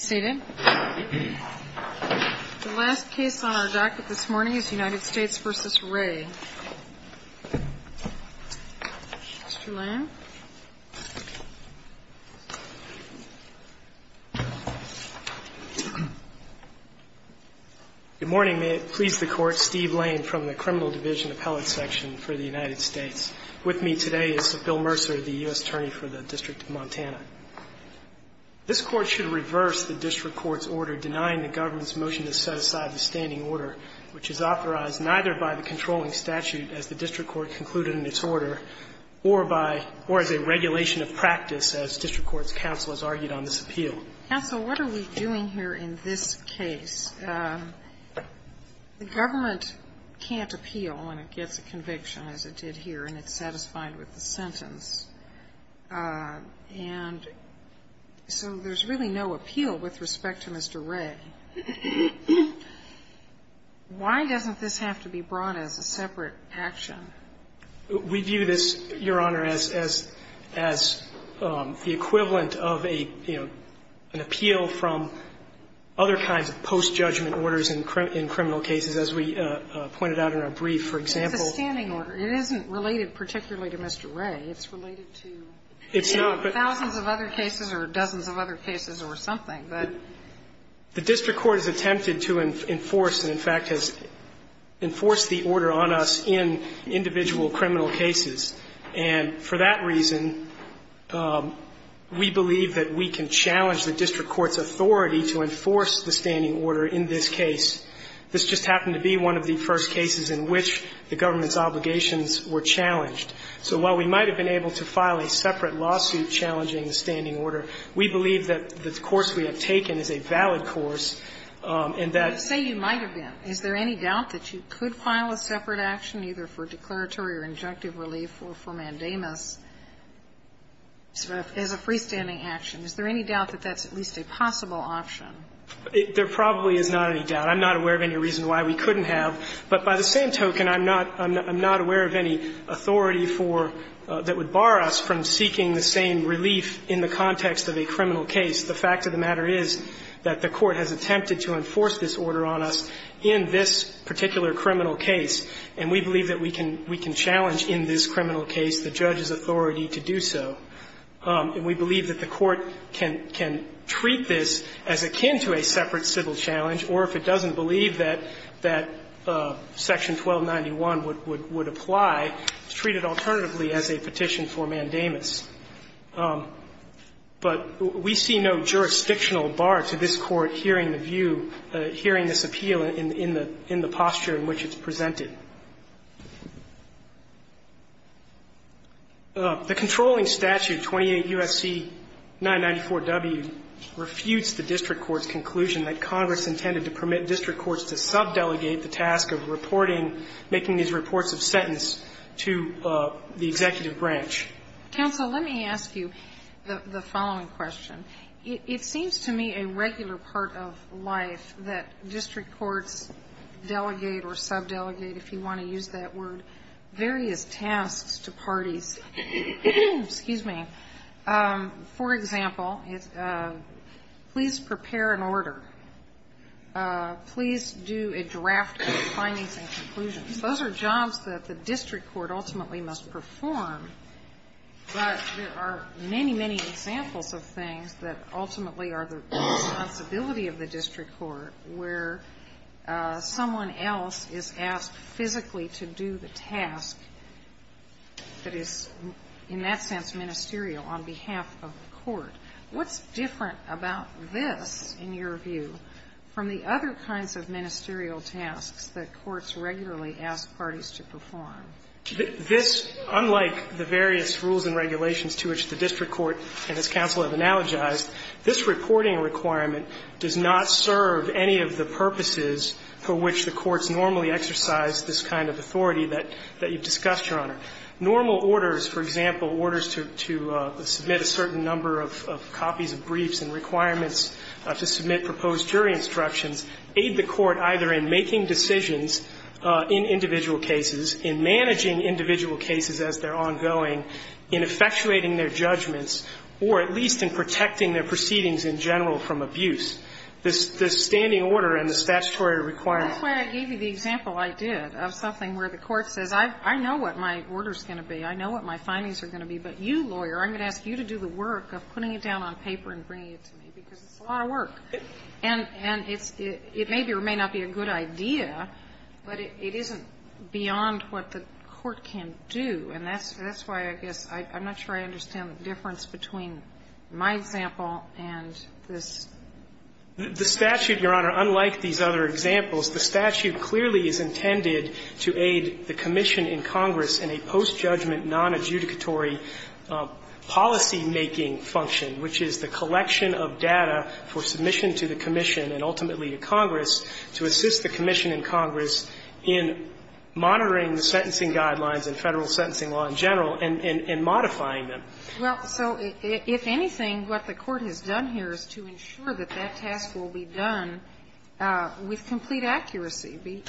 Good morning. May it please the Court, Steve Lane from the Criminal Division Appellate Section for the United States. With me today is Bill Mercer, the U.S. Attorney for the District of Montana. This Court should reverse the district court's order denying the government's motion to set aside the standing order, which is authorized neither by the controlling statute, as the district court concluded in its order, or by, or as a regulation of practice, as district court's counsel has argued on this appeal. Counsel, what are we doing here in this case? The government can't appeal when it gets a conviction, as it did here, and it's satisfied with the sentence. And so there's really no appeal with respect to Mr. Ray. Why doesn't this have to be brought as a separate action? We view this, Your Honor, as, as, as the equivalent of a, you know, an appeal from other kinds of post-judgment orders in criminal cases, as we pointed out in our brief. For example ---- It's a standing order. It isn't related particularly to Mr. Ray. It's related to ---- It's not, but ---- Thousands of other cases or dozens of other cases or something, but ---- The district court has attempted to enforce and, in fact, has enforced the order on us in individual criminal cases. And for that reason, we believe that we can challenge the district court's authority to enforce the standing order in this case. This just happened to be one of the first cases in which the government's obligations were challenged. So while we might have been able to file a separate lawsuit challenging the standing order, we believe that the course we have taken is a valid course, and that ---- Sotomayor, you say you might have been. Is there any doubt that you could file a separate action, either for declaratory or injunctive relief or for mandamus, as a freestanding action? Is there any doubt that that's at least a possible option? There probably is not any doubt. I'm not aware of any reason why we couldn't have. But by the same token, I'm not, I'm not aware of any authority for ---- that would bar us from seeking the same relief in the context of a criminal case. The fact of the matter is that the Court has attempted to enforce this order on us in this particular criminal case, and we believe that we can challenge in this criminal case the judge's authority to do so. And we believe that the Court can treat this as akin to a separate civil challenge, or if it doesn't believe that Section 1291 would apply, treat it alternatively as a petition for mandamus. But we see no jurisdictional bar to this Court hearing the view, hearing this appeal in the posture in which it's presented. The controlling statute, 28 U.S.C. 994W, refutes the district court's conclusion that Congress intended to permit district courts to subdelegate the task of reporting and making these reports of sentence to the executive branch. Counsel, let me ask you the following question. It seems to me a regular part of life that district courts delegate or subdelegate, if you want to use that word, various tasks to parties. Excuse me. For example, please prepare an order. Please do a draft of the findings and conclusions. Those are jobs that the district court ultimately must perform, but there are many, many examples of things that ultimately are the responsibility of the district court where someone else is asked physically to do the task that is, in that sense, ministerial on behalf of the court. What's different about this, in your view, from the other kinds of ministerial tasks that courts regularly ask parties to perform? This, unlike the various rules and regulations to which the district court and its counsel have analogized, this reporting requirement does not serve any of the purposes for which the courts normally exercise this kind of authority that you've discussed, Your Honor. Normal orders, for example, orders to submit a certain number of copies of briefs and requirements to submit proposed jury instructions aid the court either in making decisions in individual cases, in managing individual cases as they're ongoing, in effectuating their judgments, or at least in protecting their proceedings in general from abuse. The standing order and the statutory requirement. That's why I gave you the example I did of something where the court says, I know what my order's going to be, I know what my findings are going to be, but you, lawyer, I'm going to ask you to do the work of putting it down on paper and bringing it to me, because it's a lot of work. And it may be or may not be a good idea, but it isn't beyond what the court can do. And that's why, I guess, I'm not sure I understand the difference between my example and this. The statute, Your Honor, unlike these other examples, the statute clearly is intended to aid the commission in Congress in a post-judgment, non-adjudicatory policymaking function, which is the collection of data for submission to the commission and ultimately to Congress to assist the commission in Congress in monitoring the sentencing guidelines and Federal sentencing law in general and modifying them. Well, so if anything, what the court has done here is to ensure that that task will be done with complete accuracy,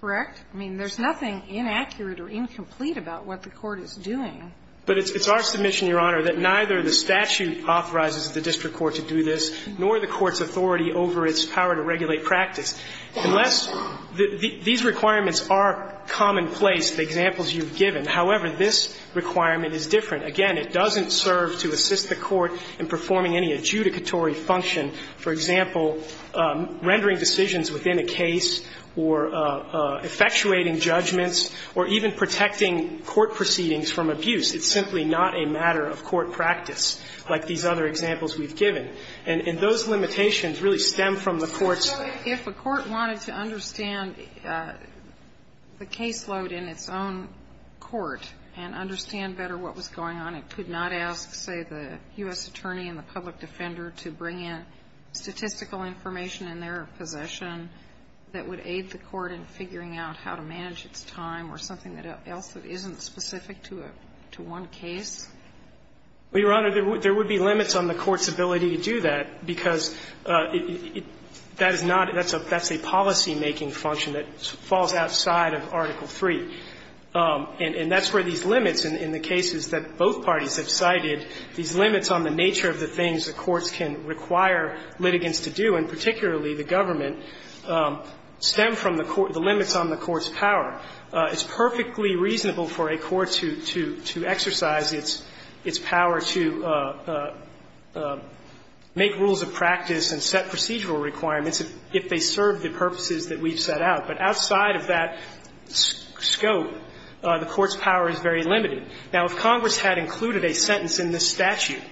correct? I mean, there's nothing inaccurate or incomplete about what the court is doing. But it's our submission, Your Honor, that neither the statute authorizes the district court to do this, nor the court's authority over its power to regulate practice. Unless the – these requirements are commonplace, the examples you've given. However, this requirement is different. Again, it doesn't serve to assist the court in performing any adjudicatory function, for example, rendering decisions within a case or effectuating judgments or even protecting court proceedings from abuse. It's simply not a matter of court practice like these other examples we've given. And those limitations really stem from the court's – So if a court wanted to understand the caseload in its own court and understand better what was going on, it could not ask, say, the U.S. attorney and the public defender to bring in statistical information in their possession that would aid the court in figuring out how to manage its time or something else that isn't specific to one case? Well, Your Honor, there would be limits on the court's ability to do that, because that is not – that's a policymaking function that falls outside of Article III. And that's where these limits in the cases that both parties have cited, these limits on the nature of the things the courts can require litigants to do, and particularly the government, stem from the limits on the court's power. It's perfectly reasonable for a court to exercise its power to make rules of practice and set procedural requirements if they serve the purposes that we've set out. But outside of that scope, the court's power is very limited. Now, if Congress had included a sentence in this statute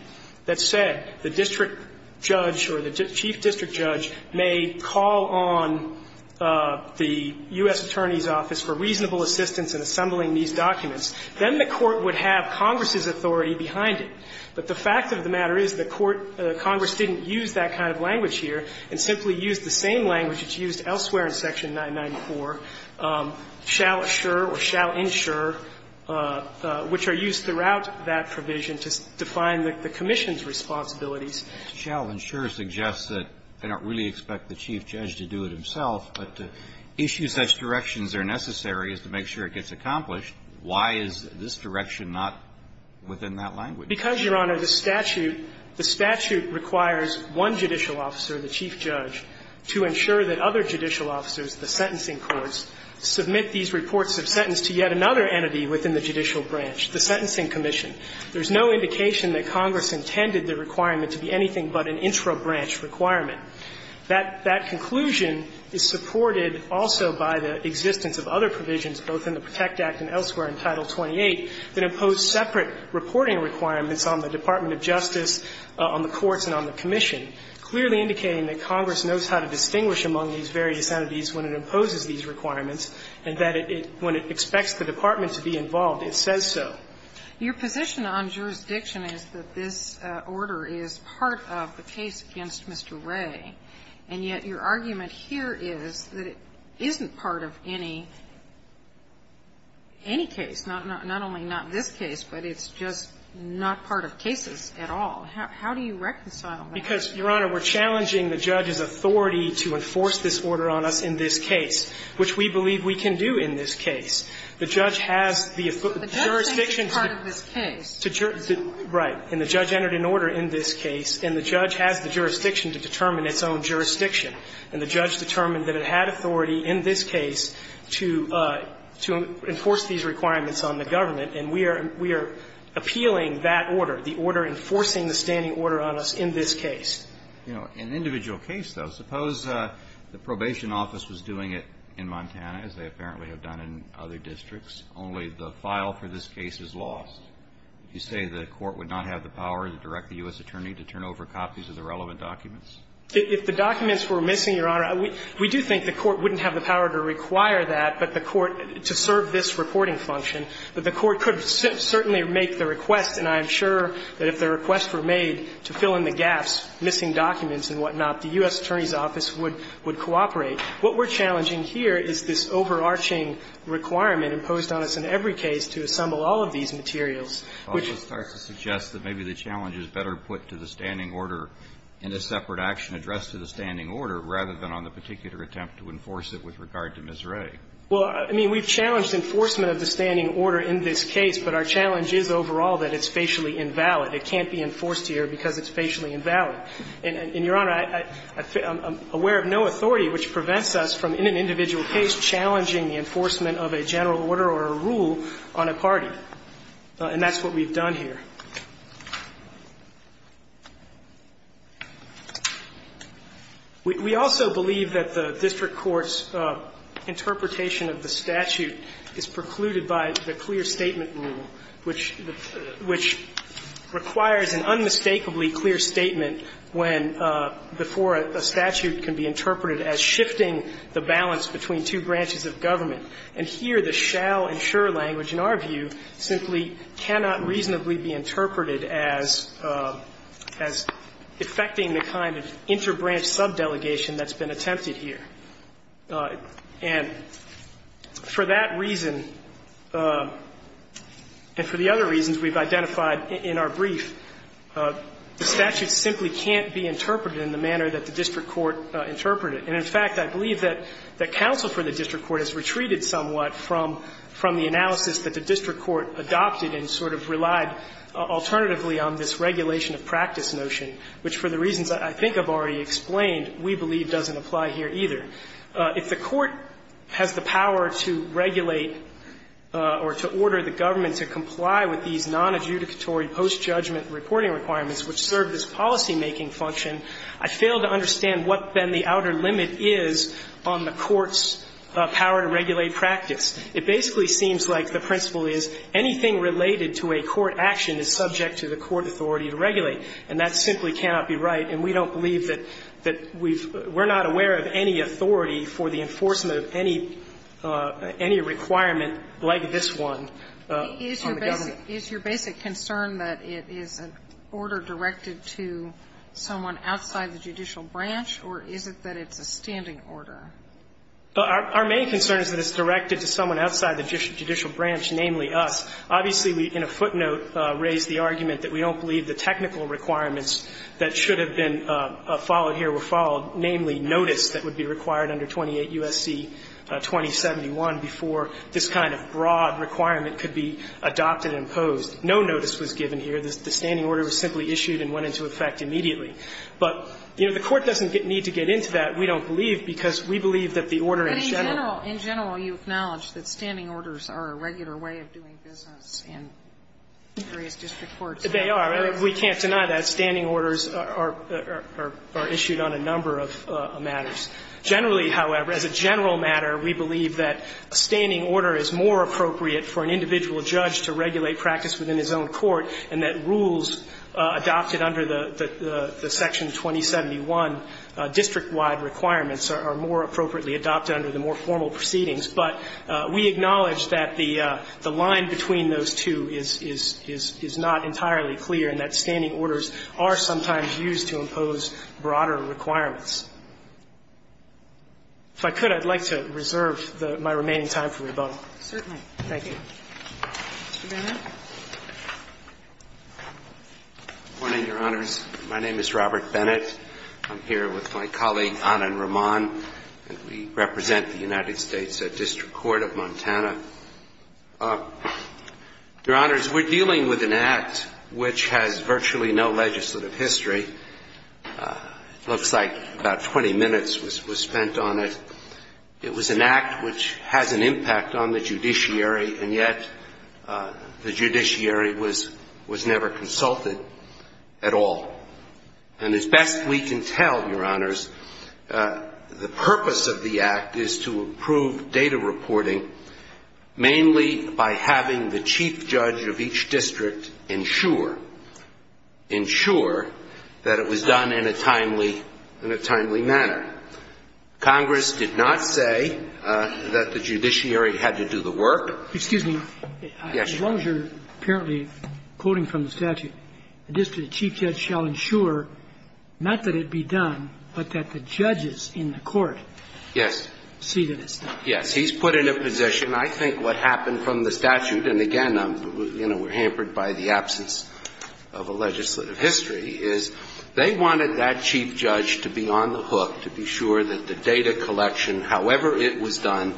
that said the district judge or the chief district judge may call on the U.S. Attorney's Office for reasonable assistance in assembling these documents, then the court would have Congress's authority behind it. But the fact of the matter is the court – Congress didn't use that kind of language here, and simply used the same language that's used elsewhere in Section 994, shall assure or shall insure, which are used throughout that provision to define the commission's responsibilities. Kennedy, shall insure suggests that they don't really expect the chief judge to do it himself, but to issue such directions where necessary is to make sure it gets accomplished. Why is this direction not within that language? Because, Your Honor, the statute – the statute requires one judicial officer, the chief judge, to insure that other judicial officers, the sentencing courts, submit these reports of sentence to yet another entity within the judicial branch, the Sentencing Commission. There's no indication that Congress intended the requirement to be anything but an intro-branch requirement. That conclusion is supported also by the existence of other provisions, both in the reporting requirements on the Department of Justice, on the courts, and on the commission, clearly indicating that Congress knows how to distinguish among these various entities when it imposes these requirements, and that it – when it expects the department to be involved, it says so. Your position on jurisdiction is that this order is part of the case against Mr. Wray, and yet your argument here is that it isn't part of any – any case, not only not this case, but it's just not part of cases at all. How do you reconcile that? Because, Your Honor, we're challenging the judge's authority to enforce this order on us in this case, which we believe we can do in this case. The judge has the jurisdiction to – But the judge thinks it's part of this case. Right. And the judge entered an order in this case, and the judge has the jurisdiction to determine its own jurisdiction. And the judge determined that it had authority in this case to – to enforce these requirements on the government, and we are – we are appealing that order, the order enforcing the standing order on us in this case. In an individual case, though, suppose the probation office was doing it in Montana, as they apparently have done in other districts, only the file for this case is lost. Would you say the court would not have the power to direct the U.S. attorney to turn over copies of the relevant documents? If the documents were missing, Your Honor, we do think the court wouldn't have the reporting function, but the court could certainly make the request, and I am sure that if the request were made to fill in the gaps, missing documents and whatnot, the U.S. attorney's office would – would cooperate. What we're challenging here is this overarching requirement imposed on us in every case to assemble all of these materials, which – It also starts to suggest that maybe the challenge is better put to the standing order in a separate action addressed to the standing order rather than on the particular attempt to enforce it with regard to Ms. Wray. Well, I mean, we've challenged enforcement of the standing order in this case, but our challenge is overall that it's facially invalid. It can't be enforced here because it's facially invalid. And, Your Honor, I'm aware of no authority which prevents us from, in an individual case, challenging the enforcement of a general order or a rule on a party. And that's what we've done here. We also believe that the district court's interpretation of the statute is precluded by the clear statement rule, which – which requires an unmistakably clear statement when – before a statute can be interpreted as shifting the balance between two branches of government. And here, the shall and sure language, in our view, simply cannot reasonably be interpreted as – as effecting the kind of interbranch subdelegation that's been attempted here. And for that reason, and for the other reasons we've identified in our brief, the statute simply can't be interpreted in the manner that the district court interpreted. And, in fact, I believe that counsel for the district court has retreated somewhat from the analysis that the district court adopted and sort of relied alternatively on this regulation of practice notion, which, for the reasons I think I've already explained, we believe doesn't apply here, either. If the court has the power to regulate or to order the government to comply with these nonadjudicatory post-judgment reporting requirements which serve this policymaking function, I fail to understand what, then, the outer limit is on the court's power to regulate practice. It basically seems like the principle is anything related to a court action is subject to the court authority to regulate, and that simply cannot be right. And we don't believe that we've – we're not aware of any authority for the enforcement of any – any requirement like this one on the government. Sotomayor, is your basic concern that it is an order directed to someone outside the judicial branch, or is it that it's a standing order? Our main concern is that it's directed to someone outside the judicial branch, namely us. Obviously, we, in a footnote, raised the argument that we don't believe the technical requirements that should have been followed here were followed, namely, notice that would be required under 28 U.S.C. 2071 before this kind of broad requirement could be adopted and imposed. No notice was given here. The standing order was simply issued and went into effect immediately. But, you know, the Court doesn't need to get into that. We don't believe, because we believe that the order in general – But in general, in general, you acknowledge that standing orders are a regular way of doing business in various district courts. They are. We can't deny that. Standing orders are issued on a number of matters. Generally, however, as a general matter, we believe that a standing order is more appropriate for an individual judge to regulate practice within his own court, and that rules adopted under the Section 2071 district-wide requirements are more appropriately adopted under the more formal proceedings. But we acknowledge that the line between those two is not entirely clear, and that standing orders are sometimes used to impose broader requirements. If I could, I'd like to reserve my remaining time for rebuttal. Certainly. Thank you. Mr. Bennett. Good morning, Your Honors. My name is Robert Bennett. I'm here with my colleague, Anand Raman, and we represent the United States District Court of Montana. Your Honors, we're dealing with an act which has virtually no legislative history. It looks like about 20 minutes was spent on it. It was an act which has an impact on the judiciary, and yet the judiciary was never consulted at all. And as best we can tell, Your Honors, the purpose of the act is to improve data reporting, mainly by having the chief judge of each district ensure that it was done in a timely manner. Congress did not say that the judiciary had to do the work. Excuse me. Yes, Your Honor. As long as you're apparently quoting from the statute, the district chief judge shall ensure not that it be done, but that the judges in the court see that it's done. Yes. Yes. He's put in a position. I think what happened from the statute, and again, you know, we're hampered by the absence of a legislative history, is they wanted that chief judge to be on the hook to be sure that the data collection, however it was done,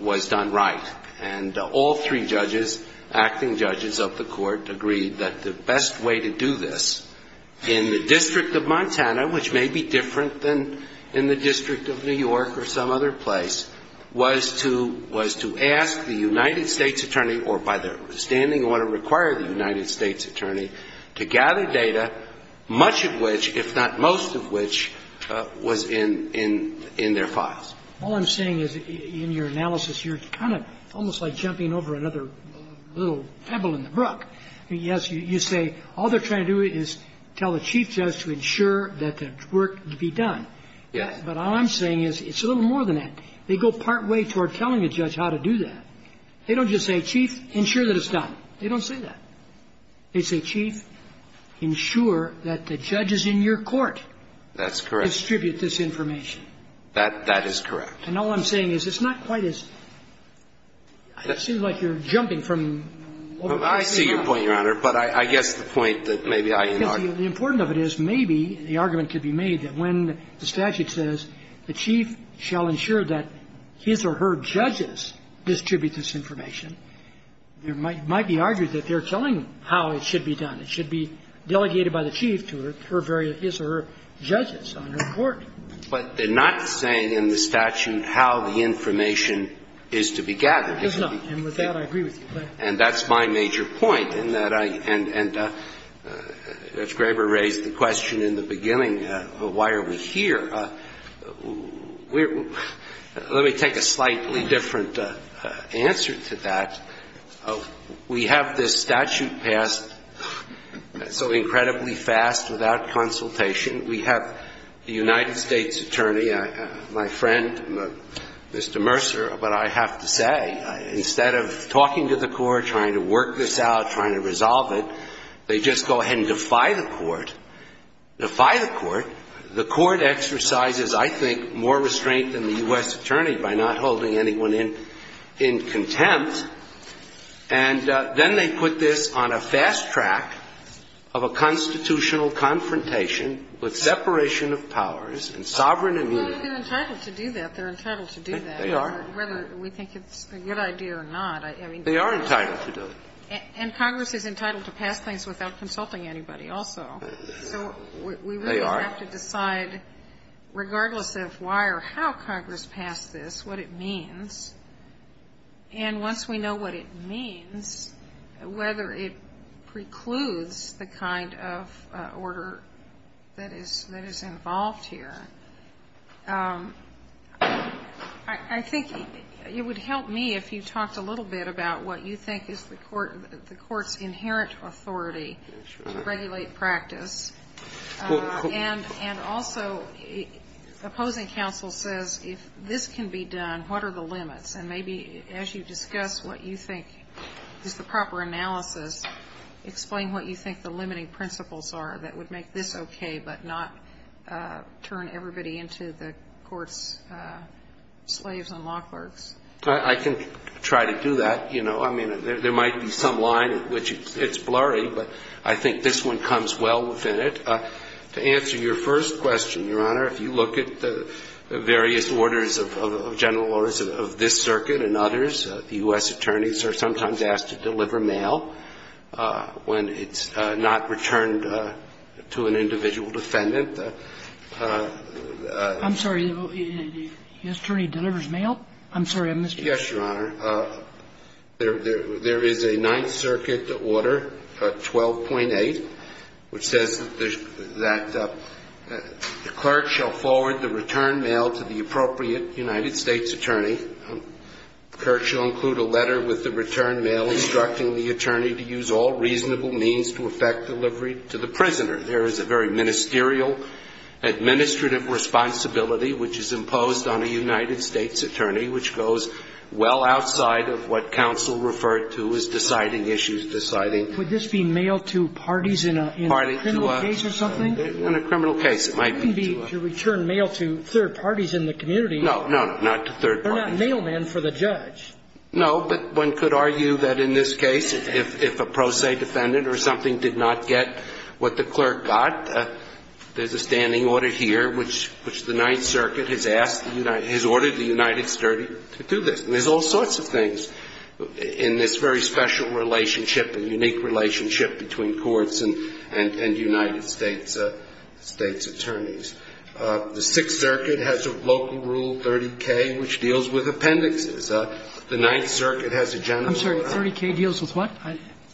was done right. And all three judges, acting judges of the court, agreed that the best way to do this in the District of Montana, which may be different than in the District of New York or some other place, was to ask the United States attorney, or by the standing order required of the United States attorney, to gather data, much of which was in their files. All I'm saying is, in your analysis here, it's kind of almost like jumping over another little pebble in the brook. I mean, yes, you say all they're trying to do is tell the chief judge to ensure that the work be done. Yes. But all I'm saying is it's a little more than that. They go partway toward telling a judge how to do that. They don't just say, Chief, ensure that it's done. They don't say that. They say, Chief, ensure that the judges in your court distribute this information. That is correct. And all I'm saying is it's not quite as – it seems like you're jumping from – Well, I see your point, Your Honor, but I guess the point that maybe I – Because the important of it is maybe the argument could be made that when the statute says the chief shall ensure that his or her judges distribute this information, there might be arguments that they're telling them how it should be done. It should be delegated by the chief to her very – his or her judges on her court. But they're not saying in the statute how the information is to be gathered. It does not. And with that, I agree with you. And that's my major point, in that I – and if Graber raised the question in the beginning, why are we here, we're – let me take a slightly different answer to that. We have this statute passed so incredibly fast without consultation. We have the United States attorney, my friend, Mr. Mercer, but I have to say, instead of talking to the court, trying to work this out, trying to resolve it, they just go ahead and defy the court. Defy the court. The court exercises, I think, more restraint than the U.S. attorney by not holding anyone in contempt. And then they put this on a fast track of a constitutional confrontation with separation of powers and sovereign immunity. Well, they've been entitled to do that. They're entitled to do that. They are. Whether we think it's a good idea or not, I mean, they are. They are entitled to do it. And Congress is entitled to pass things without consulting anybody also. So we really have to decide, regardless of why or how Congress passed this, what it means. And once we know what it means, whether it precludes the kind of order that is involved here, I think it would help me if you talked a little bit about what you think is the court's inherent authority to regulate practice. And also, opposing counsel says, if this can be done, what are the limits? And maybe as you discuss what you think is the proper analysis, explain what you think the limiting principles are that would make this okay, but not turn everybody into the court's slaves and law clerks. I can try to do that. You know, I mean, there might be some line at which it's blurry, but I think this one comes well within it. To answer your first question, Your Honor, if you look at the various orders of general orders of this circuit and others, the U.S. attorneys are sometimes asked to deliver mail when it's not returned to an individual defendant. I'm sorry. The attorney delivers mail? I missed your point. Yes, Your Honor. There is a Ninth Circuit order, 12.8, which says that the clerk shall forward the returned mail to the appropriate United States attorney. The clerk shall include a letter with the returned mail instructing the attorney to use all reasonable means to effect delivery to the prisoner. There is a very ministerial administrative responsibility which is imposed on a United And the clerk shall be able to do this outside of what counsel referred to as deciding issues, deciding. Would this be mail to parties in a criminal case or something? In a criminal case, it might be to a person. It wouldn't be to return mail to third parties in the community. No, no, not to third parties. They're not mailmen for the judge. No, but one could argue that in this case, if a pro se defendant or something did not get what the clerk got, there's a standing order here which the Ninth Circuit has asked the United States Attorney to do this. And there's all sorts of things in this very special relationship, a unique relationship between courts and United States attorneys. The Sixth Circuit has a local rule, 30K, which deals with appendixes. The Ninth Circuit has a general rule. I'm sorry. 30K deals with what?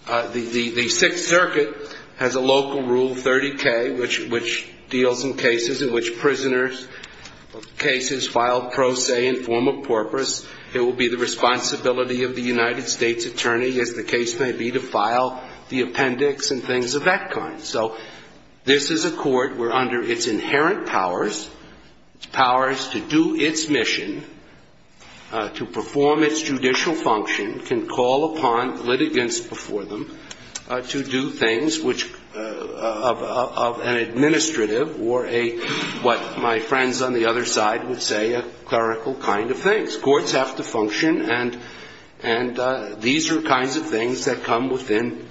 The Sixth Circuit has a local rule, 30K, which deals in cases in which prisoners of cases filed pro se in form of porpoise. It will be the responsibility of the United States Attorney, as the case may be, to file the appendix and things of that kind. So this is a court where, under its inherent powers, its powers to do its mission, to perform its judicial function, can call upon litigants before them to do things which of an administrative or a, what my friends on the other side would say, a clerical kind of thing. Courts have to function, and these are kinds of things that come within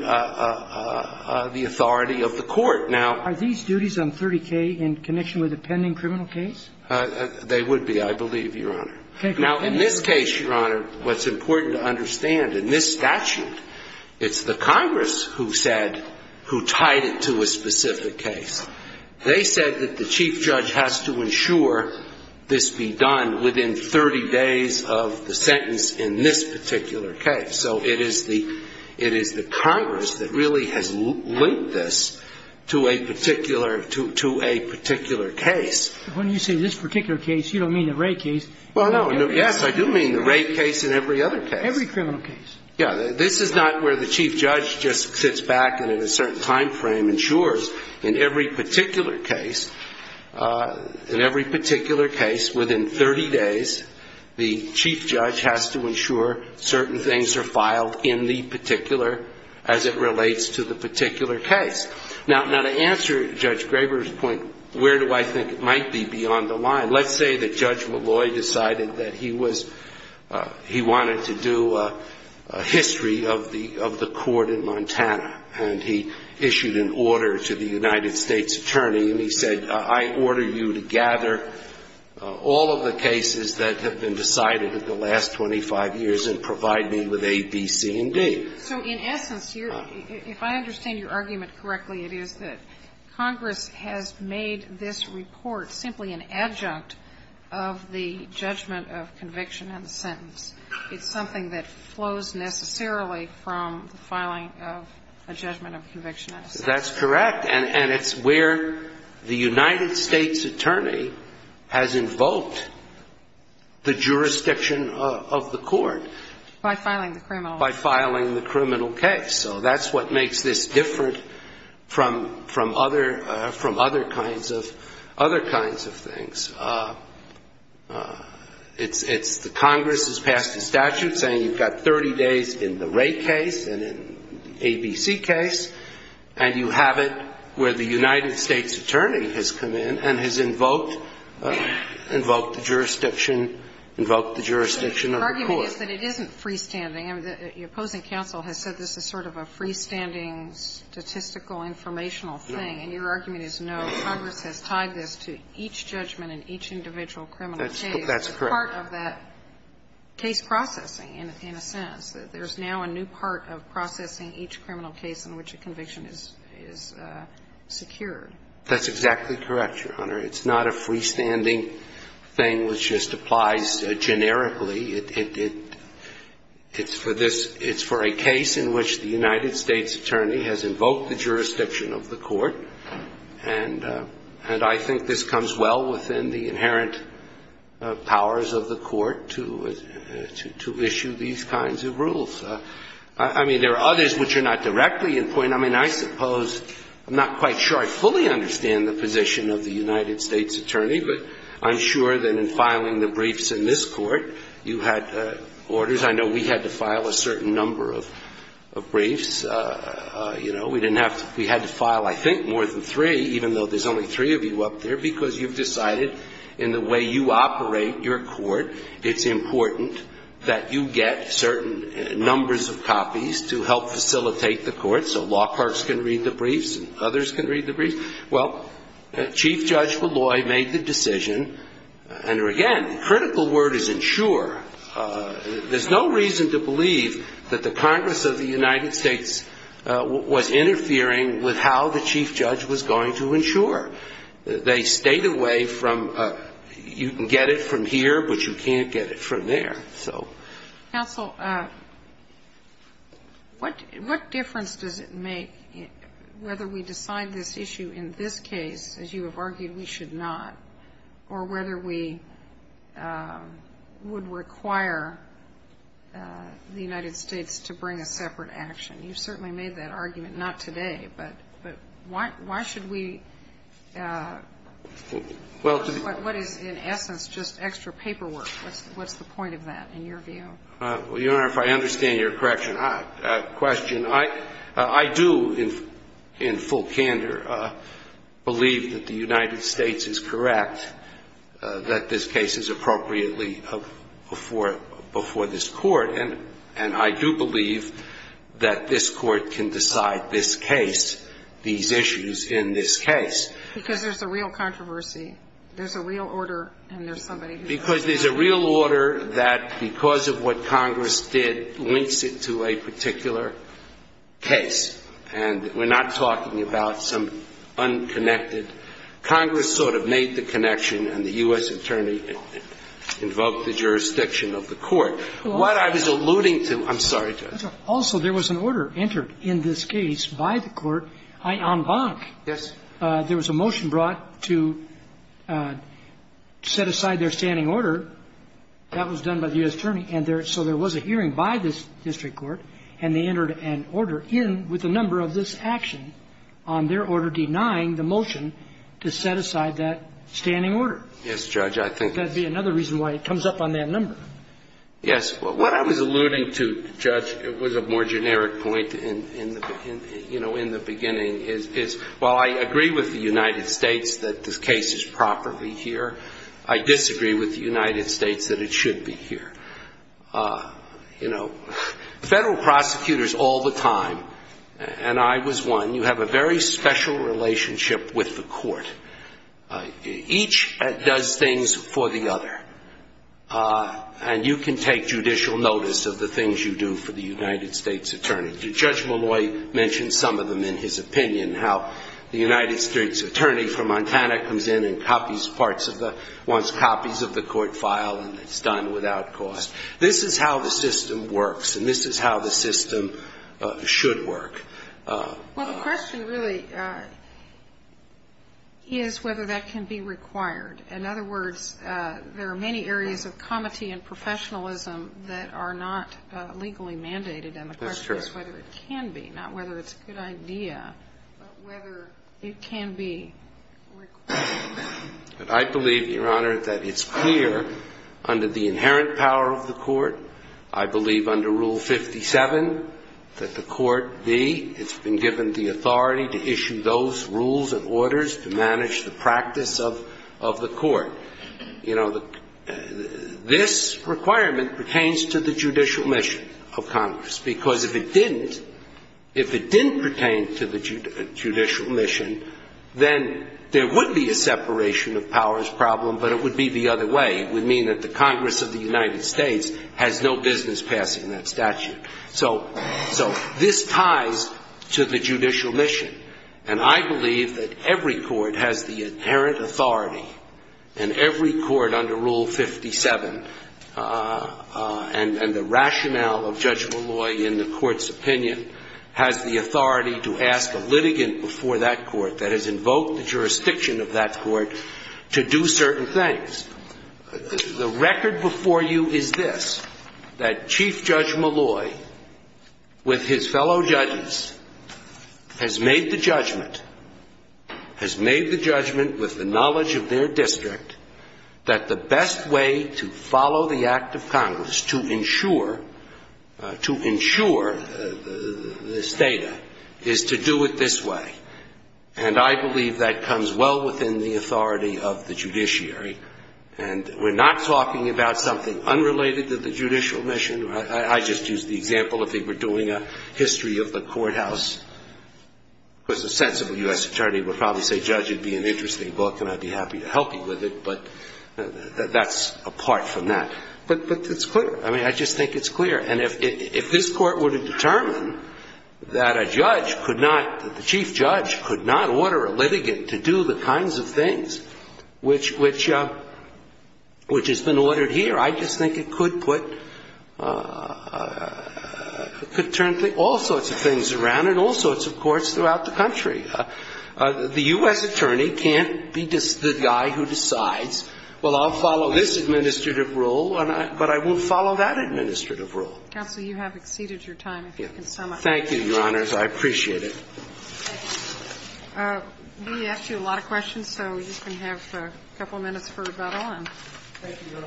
the authority of the court. Now, are these duties on 30K in connection with a pending criminal case? They would be, I believe, Your Honor. Now, in this case, Your Honor, what's important to understand, in this statute, it's the Congress who said, who tied it to a specific case. They said that the chief judge has to ensure this be done within 30 days of the sentence in this particular case. So it is the Congress that really has linked this to a particular case. When you say this particular case, you don't mean the Wray case. Well, no. Yes, I do mean the Wray case and every other case. Every criminal case. Yeah. This is not where the chief judge just sits back and in a certain time frame ensures in every particular case, in every particular case, within 30 days, the chief judge has to ensure certain things are filed in the particular as it relates to the particular case. Now, to answer Judge Graber's point, where do I think it might be beyond the line? Let's say that Judge Malloy decided that he was – he wanted to do a history of the court in Montana, and he issued an order to the United States attorney and he said, I order you to gather all of the cases that have been decided in the last 25 years and provide me with A, B, C, and D. So in essence here, if I understand your argument correctly, it is that Congress has made this report simply an adjunct of the judgment of conviction and the sentence. It's something that flows necessarily from the filing of a judgment of conviction and a sentence. That's correct. And it's where the United States attorney has invoked the jurisdiction of the court. By filing the criminal. By filing the criminal case. So that's what makes this different from other kinds of things. It's the Congress has passed a statute saying you've got 30 days in the Wray case and in the A, B, C case, and you have it where the United States attorney has come in and has invoked the jurisdiction of the court. But it isn't freestanding. The opposing counsel has said this is sort of a freestanding statistical informational thing. No. And your argument is no. Congress has tied this to each judgment in each individual criminal case. That's correct. It's part of that case processing in a sense. There's now a new part of processing each criminal case in which a conviction is secured. That's exactly correct, Your Honor. It's not a freestanding thing which just applies generically. It's for this – it's for a case in which the United States attorney has invoked the jurisdiction of the court, and I think this comes well within the inherent powers of the court to issue these kinds of rules. I mean, there are others which are not directly in point. I mean, I suppose – I'm not quite sure I fully understand the position of the United You had orders. I know we had to file a certain number of briefs. We didn't have to – we had to file, I think, more than three, even though there's only three of you up there, because you've decided in the way you operate your court it's important that you get certain numbers of copies to help facilitate the court so law clerks can read the briefs and others can read the briefs. Well, Chief Judge Molloy made the decision, and again, the critical word is ensure. There's no reason to believe that the Congress of the United States was interfering with how the chief judge was going to ensure. They stayed away from – you can get it from here, but you can't get it from there. Counsel, what difference does it make whether we decide this issue in this case, as you have argued we should not, or whether we would require the United States to bring a separate action? You certainly made that argument. Not today, but why should we – what is, in essence, just extra paperwork? What's the point of that, in your view? Well, Your Honor, if I understand your question, I do, in full candor, believe that the United States is correct that this case is appropriately before this court, and I do believe that this court can decide this case, these issues in this case. Because there's a real controversy. There's a real order, and there's somebody who's going to decide it. Because there's a real order that, because of what Congress did, links it to a particular case, and we're not talking about some unconnected. Congress sort of made the connection, and the U.S. attorney invoked the jurisdiction of the court. What I was alluding to – I'm sorry, Judge. Also, there was an order entered in this case by the court on Bonk. Yes. There was a motion brought to set aside their standing order. That was done by the U.S. attorney. And there – so there was a hearing by this district court, and they entered an order in with a number of this action on their order denying the motion to set aside that standing order. Yes, Judge, I think – That would be another reason why it comes up on that number. Yes. What I was alluding to, Judge, was a more generic point in the – you know, in the United States that the case is properly here. I disagree with the United States that it should be here. You know, federal prosecutors all the time – and I was one – you have a very special relationship with the court. Each does things for the other. And you can take judicial notice of the things you do for the United States attorney. Judge Malloy mentioned some of them in his opinion, how the United States attorney from Montana comes in and copies parts of the – wants copies of the court file, and it's done without cost. This is how the system works, and this is how the system should work. Well, the question really is whether that can be required. In other words, there are many areas of comity and professionalism that are not legally mandated. And the question is whether it can be, not whether it's a good idea, but whether it can be required. I believe, Your Honor, that it's clear under the inherent power of the court, I believe under Rule 57, that the court be – it's been given the authority to issue those rules and orders to manage the practice of the court. You know, this requirement pertains to the judicial mission of Congress. Because if it didn't, if it didn't pertain to the judicial mission, then there would be a separation of powers problem, but it would be the other way. It would mean that the Congress of the United States has no business passing that statute. So this ties to the judicial mission. And I believe that every court has the inherent authority, and every court under Rule 57, and the rationale of Judge Malloy in the court's opinion, has the authority to ask a litigant before that court that has invoked the jurisdiction of that court to do certain things. The record before you is this, that Chief Judge Malloy, with his fellow judges, has made the judgment, has made the judgment with the knowledge of their district, that the best way to follow the act of Congress to ensure, to ensure this data is to do it this way. And I believe that comes well within the authority of the judiciary. And we're not talking about something unrelated to the judicial mission. I just used the example of they were doing a history of the courthouse. Because a sensible U.S. attorney would probably say, Judge, it would be an interesting book, and I'd be happy to help you with it. But that's apart from that. But it's clear. I mean, I just think it's clear. And if this Court were to determine that a judge could not, that the Chief Judge could not order a litigant to do the kinds of things which has been ordered here, I just think it could put, could turn all sorts of things around in all sorts of courts throughout the country. The U.S. attorney can't be the guy who decides, well, I'll follow this administrative rule, but I won't follow that administrative rule. Counsel, you have exceeded your time, if you can sum it up. Thank you, Your Honors. I appreciate it. We asked you a lot of questions, so we're just going to have a couple of minutes for rebuttal. Go on. Thank you, Your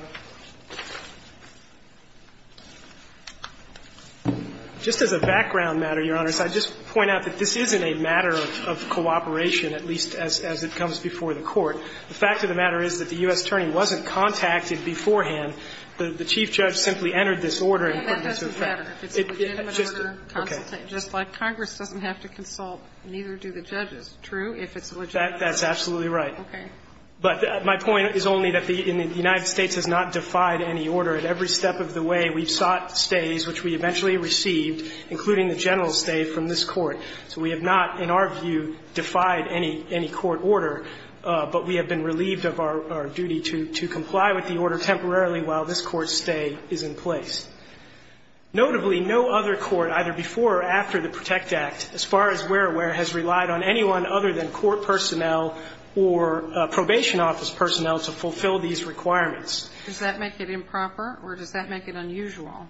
Honor. Just as a background matter, Your Honors, I'd just point out that this isn't a matter of cooperation, at least as it comes before the Court. The fact of the matter is that the U.S. attorney wasn't contacted beforehand. The Chief Judge simply entered this order and put it into effect. But that doesn't matter. If it's a legitimate order, just like Congress doesn't have to consult, neither do the judges, true? If it's legitimate. That's absolutely right. Okay. But my point is only that the United States has not defied any order. At every step of the way, we've sought stays, which we eventually received, including the general stay from this Court. So we have not, in our view, defied any court order. But we have been relieved of our duty to comply with the order temporarily while this Court's stay is in place. Notably, no other court, either before or after the PROTECT Act, as far as we're aware, has relied on anyone other than court personnel or probation office personnel to fulfill these requirements. Does that make it improper or does that make it unusual?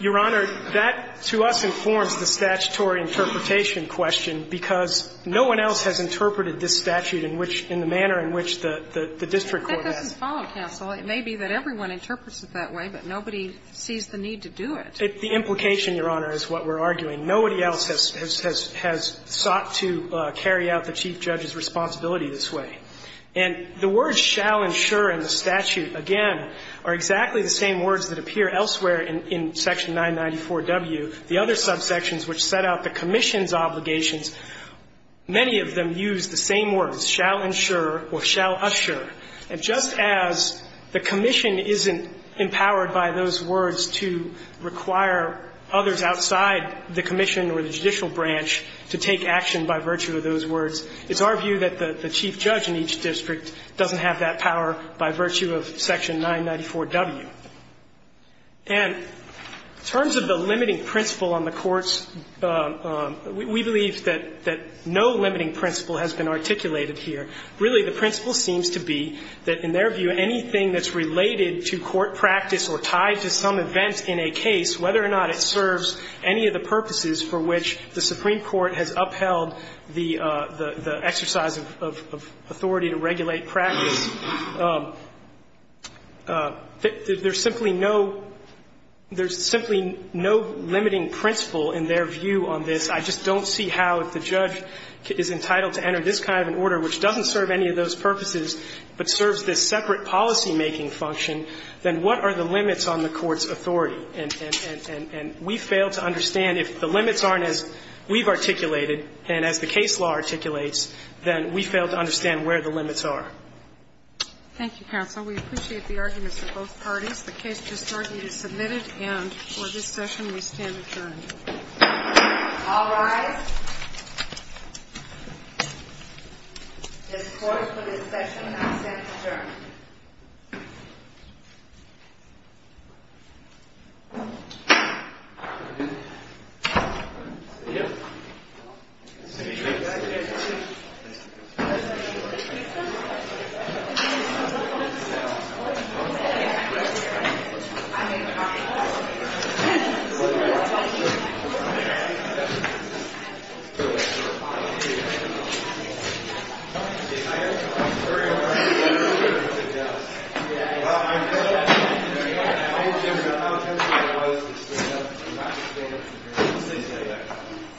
Your Honor, that to us informs the statutory interpretation question because no one else has interpreted this statute in which the manner in which the district court has. That doesn't follow, counsel. It may be that everyone interprets it that way, but nobody sees the need to do it. The implication, Your Honor, is what we're arguing. Nobody else has sought to carry out the chief judge's responsibility this way. And the words shall ensure in the statute, again, are exactly the same words that appear elsewhere in Section 994W. The other subsections which set out the commission's obligations, many of them use the same words, shall ensure or shall usher. And just as the commission isn't empowered by those words to require others outside the commission or the judicial branch to take action by virtue of those words, it's our view that the chief judge in each district doesn't have that power by virtue of Section 994W. And in terms of the limiting principle on the courts, we believe that no limiting principle has been articulated here. Really, the principle seems to be that, in their view, anything that's related to court practice or tied to some event in a case, whether or not it serves any of the purposes for which the Supreme Court has upheld the exercise of authority to regulate practice, there's simply no limiting principle in their view on this. I just don't see how if the judge is entitled to enter this kind of an order which doesn't serve any of those purposes but serves this separate policymaking function, then what are the limits on the court's authority? And we fail to understand if the limits aren't as we've articulated and as the case law articulates, then we fail to understand where the limits are. Thank you, counsel. We appreciate the arguments of both parties. The case is submitted and for this session we stand adjourned. All rise. This court for this session has been adjourned.